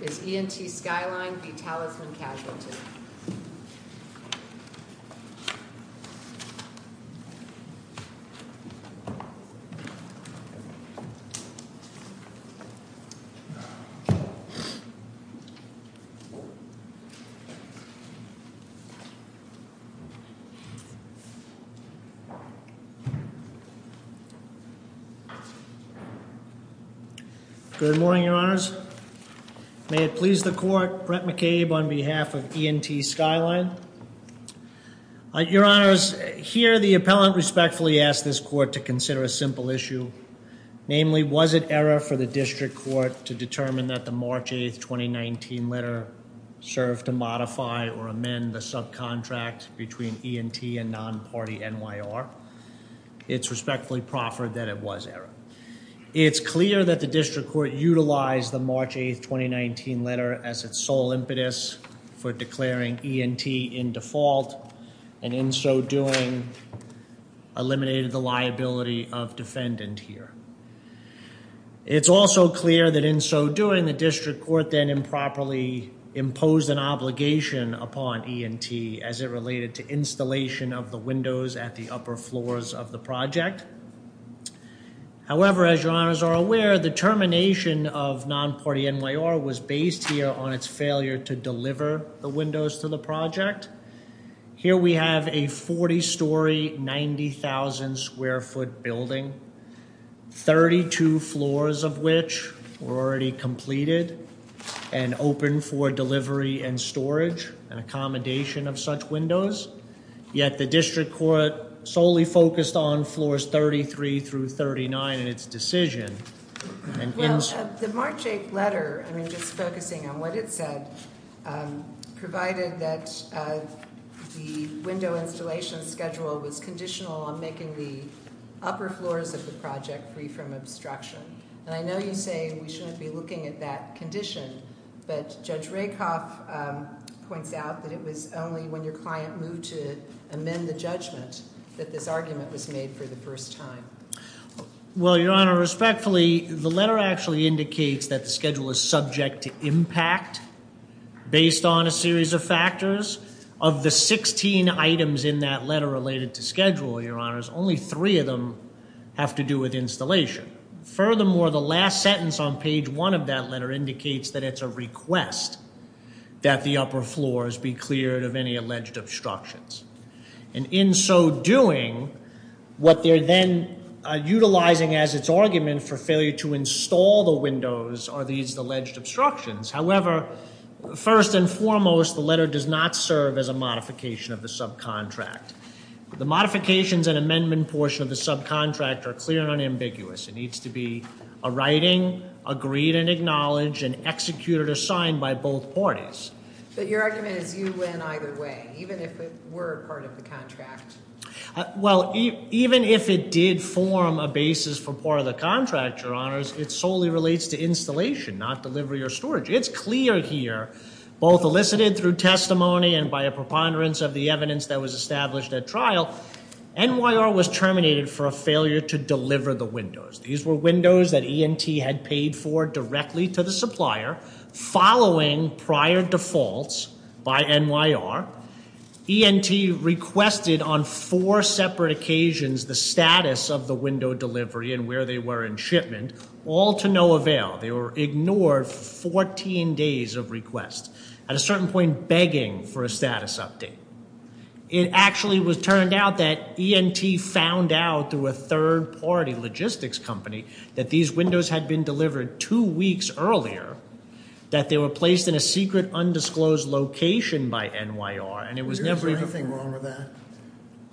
is E & T Skyline v. Talisman Casualty. Thank you. I am going to be discussing the E&T Skyline. Your Honors, here the appellant respectfully asked this court to consider a simple issue. Namely, was it error for the district court to determine that the March 8th, 2019 letter served to modify or amend the subcontract between E&T and non-party NYR? It's respectfully proffered that it was error. It's clear that the district court utilized the March 8th, 2019 letter as its sole impetus for declaring E&T in default and in so doing eliminated the liability of defendant here. It's also clear that in so doing, the district court then improperly imposed an obligation upon E&T as it related to installation of the windows at the upper floors of the project. However, as your Honors are aware, the termination of non-party NYR was based here on its failure to deliver the windows to the project. Here we have a 40-story, 90,000 square foot building, 32 floors of which were already completed and open for delivery and storage and accommodation of such windows, yet the district court solely focused on floors 33 through 39 in its decision. Well, the March 8th letter, I mean just focusing on what it said, provided that the window installation schedule was conditional on making the upper floors of the project free from obstruction. And I know you say we shouldn't be looking at that condition, but Judge Rakoff points out that it was only when your client moved to amend the judgment that this argument was made for the first time. Well, your Honor, respectfully, the letter actually indicates that the schedule is subject to impact based on a series of factors. Of the 16 items in that letter related to schedule, your Honors, only three of them have to do with installation. Furthermore, the last sentence on page one of that letter indicates that it's a request that the upper floors be cleared of any alleged obstructions. And in so doing, what they're then utilizing as its argument for failure to install the windows are these alleged obstructions. However, first and foremost, the letter does not serve as a modification of the subcontract. The modifications and amendment portion of the subcontract are clear and unambiguous. It needs to be a writing, agreed and acknowledged, and executed or signed by both parties. But your argument is you win either way, even if it were part of the contract. Well, even if it did form a basis for part of the contract, your Honors, it solely relates to installation, not delivery or storage. It's clear here, both elicited through testimony and by a preponderance of the evidence that was established at trial, NYR was terminated for a failure to deliver the windows. These were windows that ENT had paid for directly to the supplier, following prior defaults by NYR. ENT requested on four separate occasions the status of the window delivery and where they were in shipment, all to no avail. They ignored 14 days of requests, at a certain point begging for a status update. It actually was turned out that ENT found out through a third party logistics company that these windows had been delivered two weeks earlier, that they were placed in a secret undisclosed location by NYR, and it was never- Is there anything wrong with that,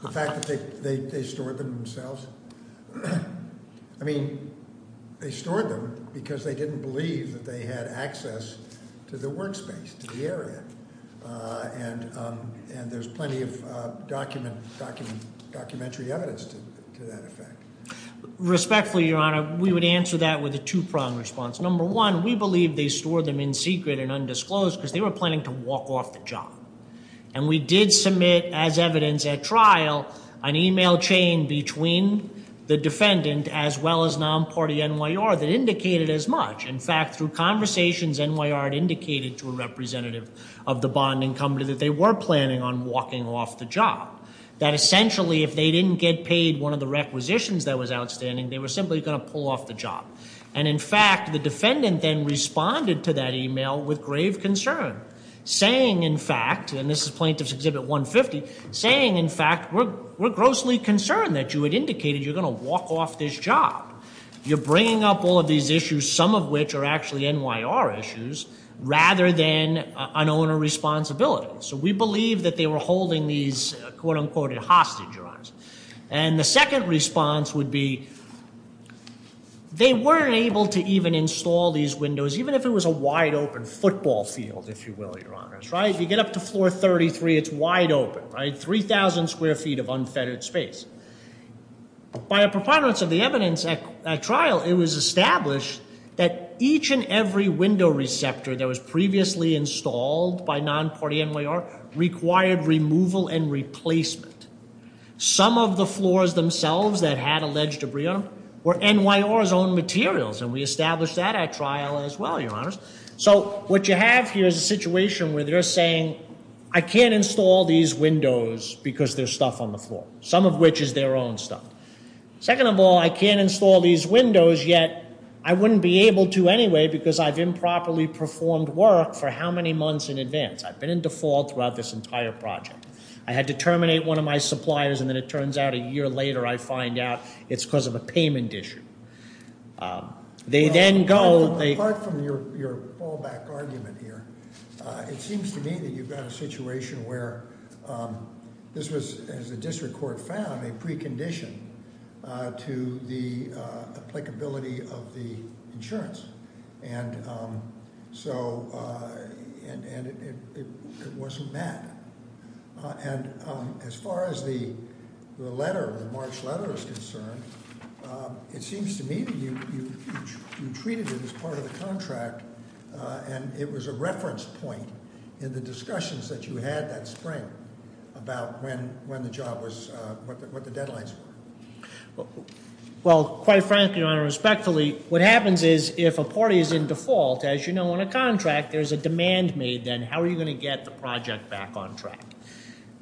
the fact that they stored them themselves? I mean, they stored them because they didn't believe that they had access to the work space, to the area. And there's plenty of documentary evidence to that effect. Respectfully, Your Honor, we would answer that with a two-pronged response. Number one, we believe they stored them in secret and undisclosed because they were planning to walk off the job. And we did submit, as evidence at trial, an email chain between the defendant as well as non-party NYR that indicated as much. In fact, through conversations, NYR had indicated to a representative of the bonding company that they were planning on walking off the job. That essentially, if they didn't get paid one of the requisitions that was outstanding, they were simply going to pull off the job. And in fact, the defendant then responded to that email with grave concern, saying in fact, and this is Plaintiff's Exhibit 150, saying in fact, we're grossly concerned that you had indicated you're going to walk off this job. You're bringing up all of these issues, some of which are actually NYR issues, rather than an owner responsibility. So we believe that they were holding these, quote unquote, in hostage, Your Honors. And the second response would be, they weren't able to even install these windows, even if it was a wide open football field, if you will, Your Honors, right? If you get up to floor 33, it's wide open, right, 3,000 square feet of unfettered space. By a preponderance of the evidence at trial, it was established that each and every window receptor that was previously installed by non-party NYR required removal and replacement. Some of the floors themselves that had alleged debris on them were NYR's own materials, and we established that at trial as well, Your Honors. So what you have here is a situation where they're saying, I can't install these windows because there's stuff on the floor. Some of which is their own stuff. Second of all, I can't install these windows, yet I wouldn't be able to anyway, because I've improperly performed work for how many months in advance? I've been in default throughout this entire project. I had to terminate one of my suppliers, and then it turns out a year later, I find out it's because of a payment issue. They then go- Apart from your fallback argument here, it seems to me that you've got a situation where this was, as the district court found, a precondition to the applicability of the insurance. And so, and it wasn't met. And as far as the letter, the March letter is concerned, it seems to me that you treated it as part of the contract, and it was a reference point in the discussions that you had that spring about when the job was, what the deadlines were. Well, quite frankly, Your Honor, respectfully, what happens is if a party is in default, as you know, on a contract, there's a demand made then, how are you going to get the project back on track?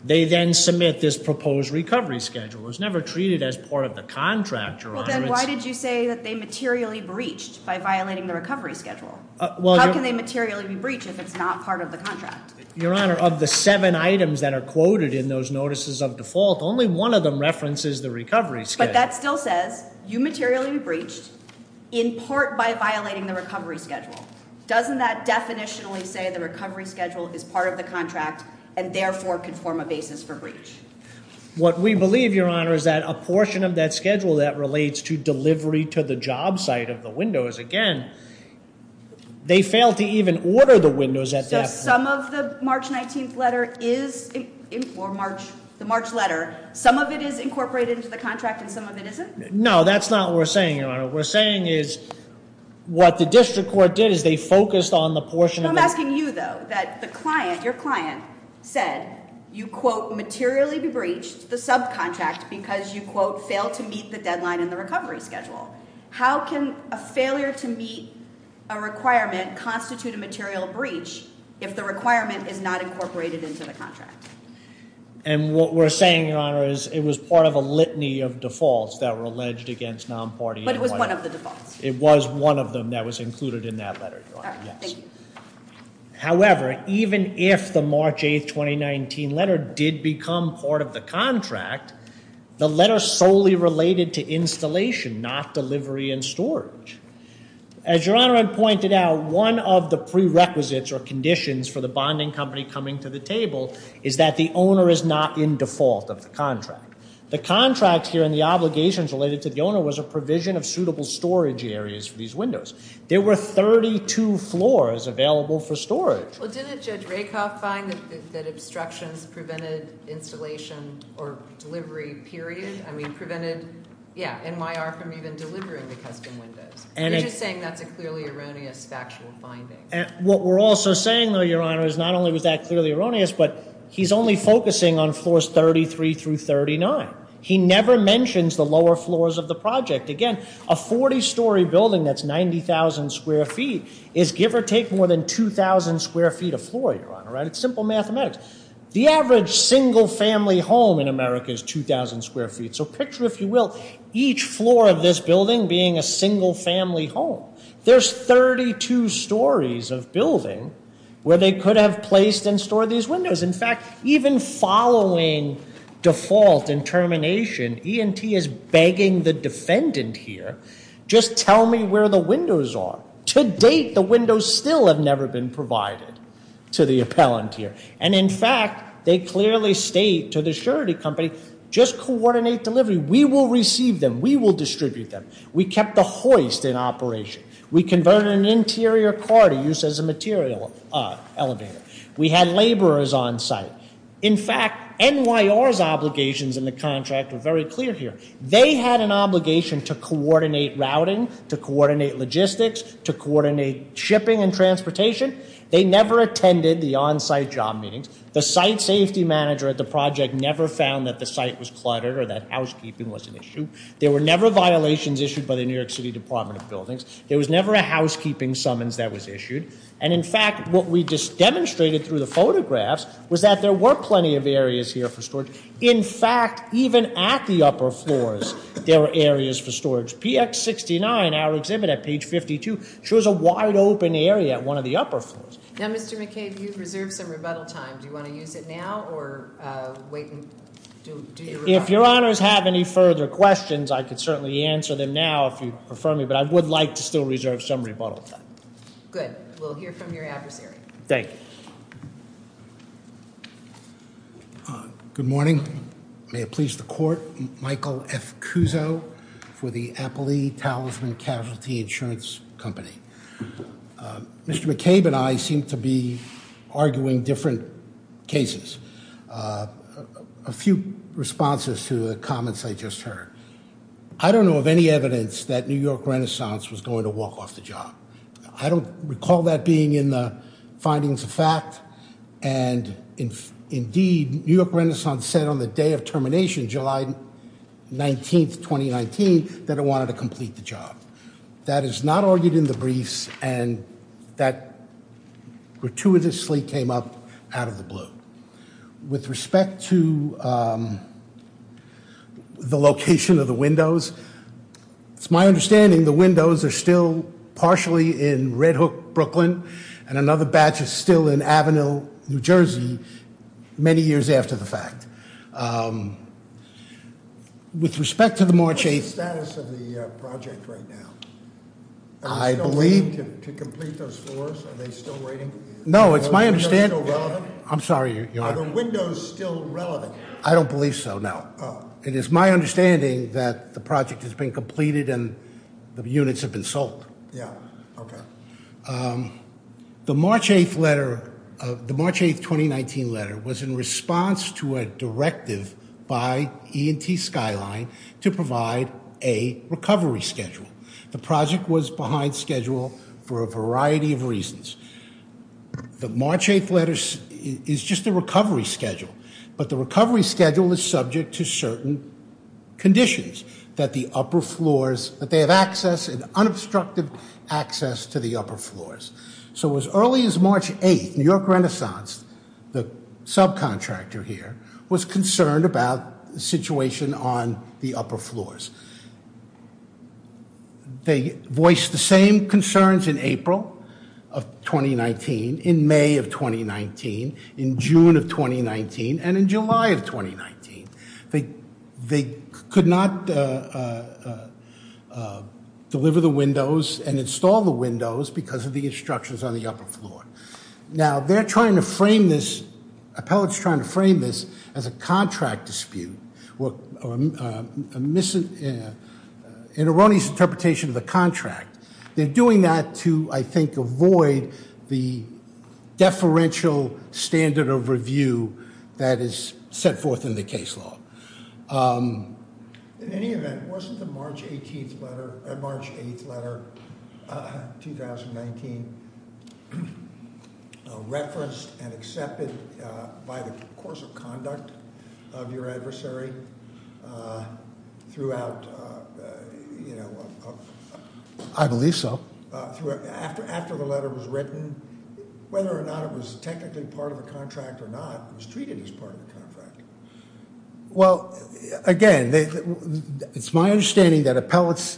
They then submit this proposed recovery schedule. It was never treated as part of the contract, Your Honor. Well, then why did you say that they materially breached by violating the recovery schedule? How can they materially be breached if it's not part of the contract? Your Honor, of the seven items that are quoted in those notices of default, only one of them references the recovery schedule. But that still says, you materially breached in part by violating the recovery schedule. Doesn't that definitionally say the recovery schedule is part of the contract, and therefore could form a basis for breach? What we believe, Your Honor, is that a portion of that schedule that relates to delivery to the job site of the windows, again, they failed to even order the windows at that point. So some of the March 19th letter is, or the March letter, some of it is incorporated into the contract and some of it isn't? No, that's not what we're saying, Your Honor. What we're saying is what the district court did is they focused on the portion of the- They materially breached the subcontract because you, quote, failed to meet the deadline in the recovery schedule. How can a failure to meet a requirement constitute a material breach if the requirement is not incorporated into the contract? And what we're saying, Your Honor, is it was part of a litany of defaults that were alleged against non-parties. But it was one of the defaults. It was one of them that was included in that letter, Your Honor, yes. All right, thank you. However, even if the March 8th, 2019 letter did become part of the contract, the letter solely related to installation, not delivery and storage. As Your Honor had pointed out, one of the prerequisites or conditions for the bonding company coming to the table is that the owner is not in default of the contract. The contract here and the obligations related to the owner was a provision of suitable storage areas for these windows. There were 32 floors available for storage. Well, didn't Judge Rakoff find that obstructions prevented installation or delivery period, I mean prevented, yeah, NYR from even delivering the custom windows? You're just saying that's a clearly erroneous factual finding. What we're also saying, though, Your Honor, is not only was that clearly erroneous, but he's only focusing on floors 33 through 39. He never mentions the lower floors of the project. Again, a 40 story building that's 90,000 square feet is give or take more than 2,000 square feet of floor, Your Honor, right? It's simple mathematics. The average single family home in America is 2,000 square feet. So picture, if you will, each floor of this building being a single family home. There's 32 stories of building where they could have placed and stored these windows. In fact, even following default and termination, ENT is begging the defendant here, just tell me where the windows are. To date, the windows still have never been provided to the appellant here. And in fact, they clearly state to the surety company, just coordinate delivery. We will receive them. We will distribute them. We kept the hoist in operation. We converted an interior corridor used as a material elevator. We had laborers on site. In fact, NYR's obligations in the contract are very clear here. They had an obligation to coordinate routing, to coordinate logistics, to coordinate shipping and transportation. They never attended the on-site job meetings. The site safety manager at the project never found that the site was cluttered or that housekeeping was an issue. There were never violations issued by the New York City Department of Buildings. There was never a housekeeping summons that was issued. And in fact, what we just demonstrated through the photographs was that there were plenty of areas here for storage. In fact, even at the upper floors, there were areas for storage. PX 69, our exhibit at page 52, shows a wide open area at one of the upper floors. Now, Mr. McCabe, you've reserved some rebuttal time. Do you want to use it now or wait and do your rebuttal? If your honors have any further questions, I could certainly answer them now if you prefer me, but I would like to still reserve some rebuttal time. Good, we'll hear from your adversary. Thank you. Good morning. May it please the court. Michael F. Cuso for the Appley Talisman Casualty Insurance Company. Mr. McCabe and I seem to be arguing different cases. A few responses to the comments I just heard. I don't know of any evidence that New York Renaissance was going to walk off the job. I don't recall that being in the findings of fact. And indeed, New York Renaissance said on the day of termination, July 19th, 2019, that it wanted to complete the job. That is not argued in the briefs, and that gratuitously came up out of the blue. With respect to the location of the windows, it's my understanding the windows are still partially in Red Hook, Brooklyn. And another batch is still in Avenue, New Jersey, many years after the fact. With respect to the March 8th- What's the status of the project right now? Are they still waiting to complete those floors? Are they still waiting? No, it's my understanding- Are they still relevant? I'm sorry, Your Honor. Are the windows still relevant? I don't believe so, no. It is my understanding that the project has been completed and the units have been sold. Yeah, okay. The March 8th 2019 letter was in response to a directive by ENT Skyline to provide a recovery schedule. The project was behind schedule for a variety of reasons. The March 8th letter is just a recovery schedule, but the recovery schedule is subject to certain conditions. That the upper floors, that they have access and unobstructed access to the upper floors. So as early as March 8th, New York Renaissance, the subcontractor here, was concerned about the situation on the upper floors. They voiced the same concerns in April of 2019, in May of 2019, in June of 2019, and in July of 2019. They could not deliver the windows and install the windows because of the instructions on the upper floor. Now, they're trying to frame this, appellate's trying to frame this as a contract dispute. Or an erroneous interpretation of the contract. They're doing that to, I think, avoid the deferential standard of review that is set forth in the case law. In any event, wasn't the March 18th letter, or March 8th letter, 2019 referenced and accepted by the course of conduct of your adversary? Throughout, you know, I believe so. After the letter was written, whether or not it was technically part of the contract or not, it was treated as part of the contract. Well, again, it's my understanding that appellate's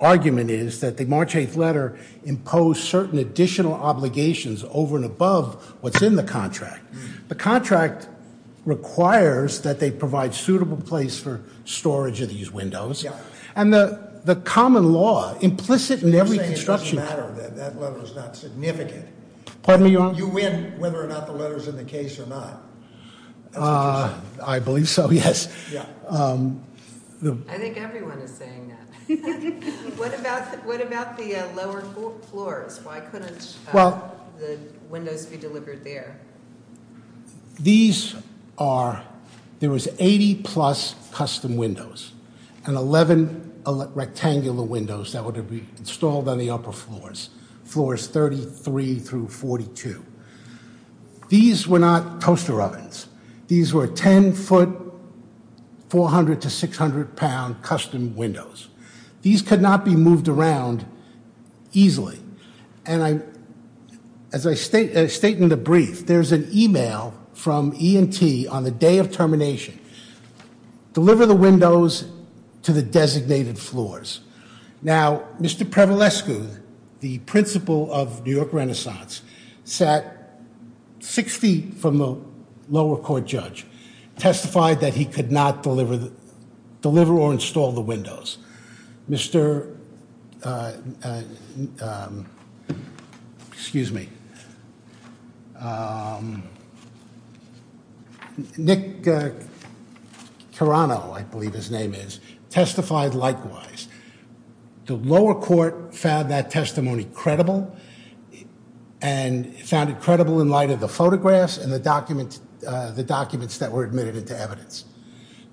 argument is that the March 8th letter imposed certain additional obligations over and above what's in the contract. The contract requires that they provide suitable place for storage of these windows. And the common law, implicit in every construction- You're saying it doesn't matter, that that letter's not significant. Pardon me, Your Honor? You win whether or not the letter's in the case or not. I believe so, yes. Yeah. I think everyone is saying that. What about the lower floors? Why couldn't the windows be delivered there? These are, there was 80 plus custom windows. And 11 rectangular windows that would be installed on the upper floors. Floors 33 through 42. These were not toaster ovens. These were 10 foot, 400 to 600 pound custom windows. These could not be moved around easily. And as I state in the brief, there's an email from ENT on the day of termination. Deliver the windows to the designated floors. Now, Mr. Prevalescu, the principal of New York Renaissance, sat 60 feet from the lower court judge, testified that he could not deliver or install the windows. Mr. Excuse me. Nick Tarano, I believe his name is, testified likewise. The lower court found that testimony credible, and found it credible in light of the photographs and the documents that were admitted into evidence.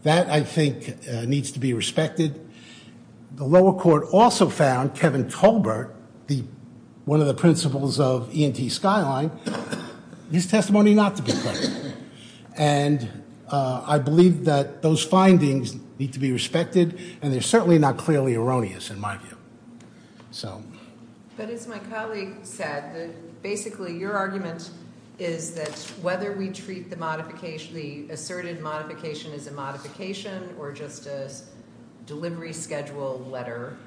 That, I think, needs to be respected. The lower court also found Kevin Colbert, one of the principals of ENT Skyline. His testimony not to be respected. And I believe that those findings need to be respected, and they're certainly not clearly erroneous in my view, so. But as my colleague said, basically your argument is that whether we treat the asserted modification as a modification or just a delivery schedule letter.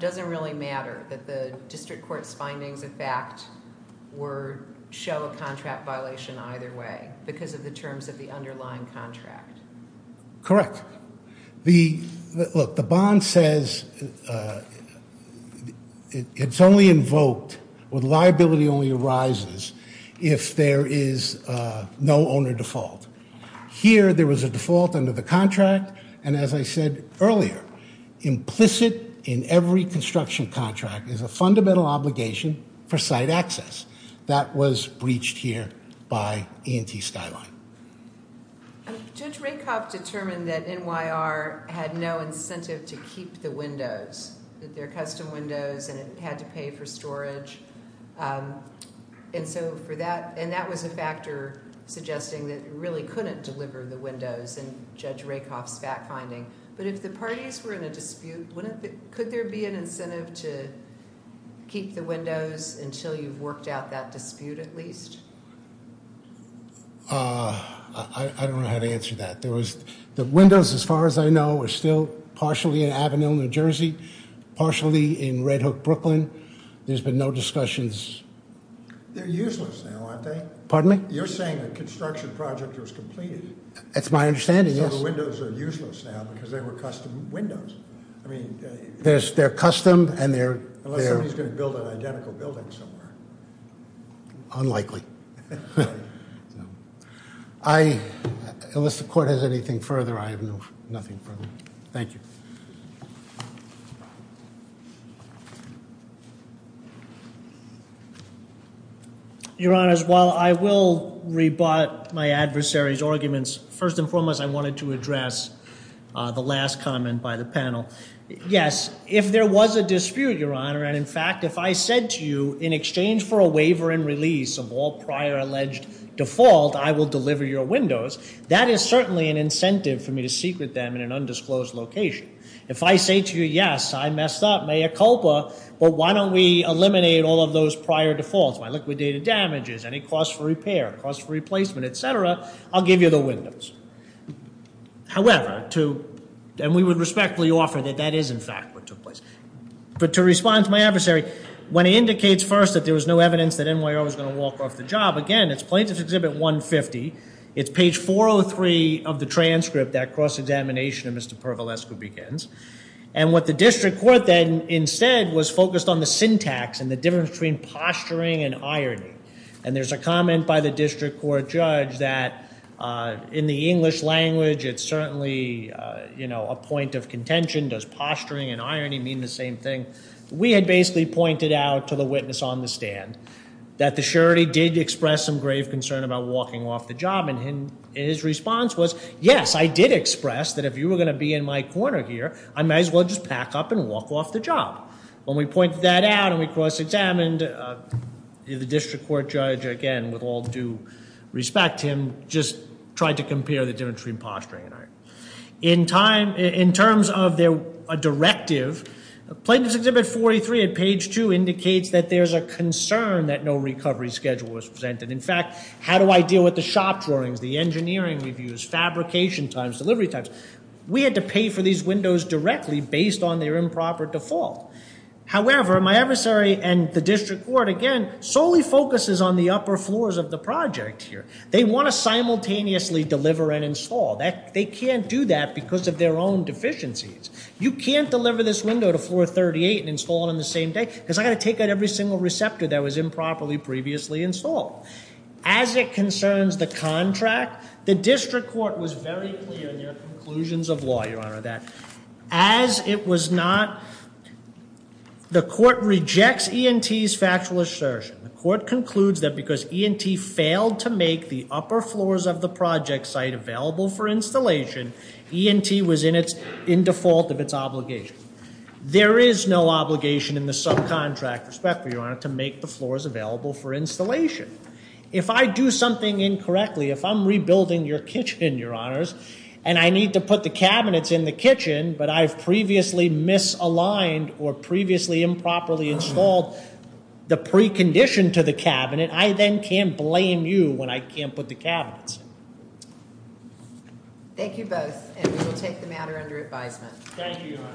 Doesn't really matter that the district court's findings, in fact, were show a contract violation either way because of the terms of the underlying contract. Correct. The, look, the bond says, it's only invoked when liability only arises if there is no owner default. Here, there was a default under the contract, and as I said earlier, implicit in every construction contract is a fundamental obligation for site access that was breached here by ENT Skyline. Judge Rakoff determined that NYR had no incentive to keep the windows. That they're custom windows and it had to pay for storage. And so for that, and that was a factor suggesting that it really couldn't deliver the windows in Judge Rakoff's fact finding. But if the parties were in a dispute, wouldn't the, could there be an incentive to keep the windows until you've worked out that dispute at least? I don't know how to answer that. There was, the windows, as far as I know, are still partially in Avenue, New Jersey. Partially in Red Hook, Brooklyn. There's been no discussions. They're useless now, aren't they? Pardon me? You're saying the construction project was completed. That's my understanding, yes. So the windows are useless now because they were custom windows. I mean- They're custom and they're- Unless somebody's going to build an identical building somewhere. Unlikely. I, unless the court has anything further, I have no, nothing further. Thank you. Your honors, while I will rebut my adversary's arguments. First and foremost, I wanted to address the last comment by the panel. Yes, if there was a dispute, your honor, and in fact, if I said to you, in exchange for a waiver and release of all prior alleged default, I will deliver your windows, that is certainly an incentive for me to secret them in an undisclosed location. If I say to you, yes, I messed up, mea culpa, but why don't we eliminate all of those prior defaults? My liquidated damages, any cost for repair, cost for replacement, etc., I'll give you the windows. However, to, and we would respectfully offer that that is, in fact, what took place. But to respond to my adversary, when he indicates first that there was no evidence that NYO was going to walk off the job. Again, it's plaintiff's exhibit 150, it's page 403 of the transcript, that cross-examination of Mr. Pervalescu begins. And what the district court then instead was focused on the syntax and the difference between posturing and irony. And there's a comment by the district court judge that in the English language, it's certainly a point of contention, does posturing and irony mean the same thing? We had basically pointed out to the witness on the stand that the surety did express some grave concern about walking off the job. And his response was, yes, I did express that if you were going to be in my corner here, I might as well just pack up and walk off the job. When we pointed that out and we cross-examined, the district court judge, again, with all due respect to him, just tried to compare the difference between posturing and irony. In terms of a directive, Plaintiff's Exhibit 43 at page two indicates that there's a concern that no recovery schedule was presented. In fact, how do I deal with the shop drawings, the engineering reviews, fabrication times, delivery times? We had to pay for these windows directly based on their improper default. However, my adversary and the district court, again, solely focuses on the upper floors of the project here. They want to simultaneously deliver and install. They can't do that because of their own deficiencies. You can't deliver this window to floor 38 and install it on the same day because I got to take out every single receptor that was improperly previously installed. As it concerns the contract, the district court was very clear in their conclusions of law, Your Honor, that as it was not, the court rejects ENT's factual assertion. The court concludes that because ENT failed to make the upper floors of the project site available for installation, ENT was in default of its obligation. There is no obligation in the subcontract respect, Your Honor, to make the floors available for installation. If I do something incorrectly, if I'm rebuilding your kitchen, Your Honors, and I need to put the cabinets in the kitchen, but I've previously misaligned or previously improperly installed the precondition to the cabinet, I then can't blame you when I can't put the cabinets in. Thank you both, and we will take the matter under advisement. Thank you, Your Honor.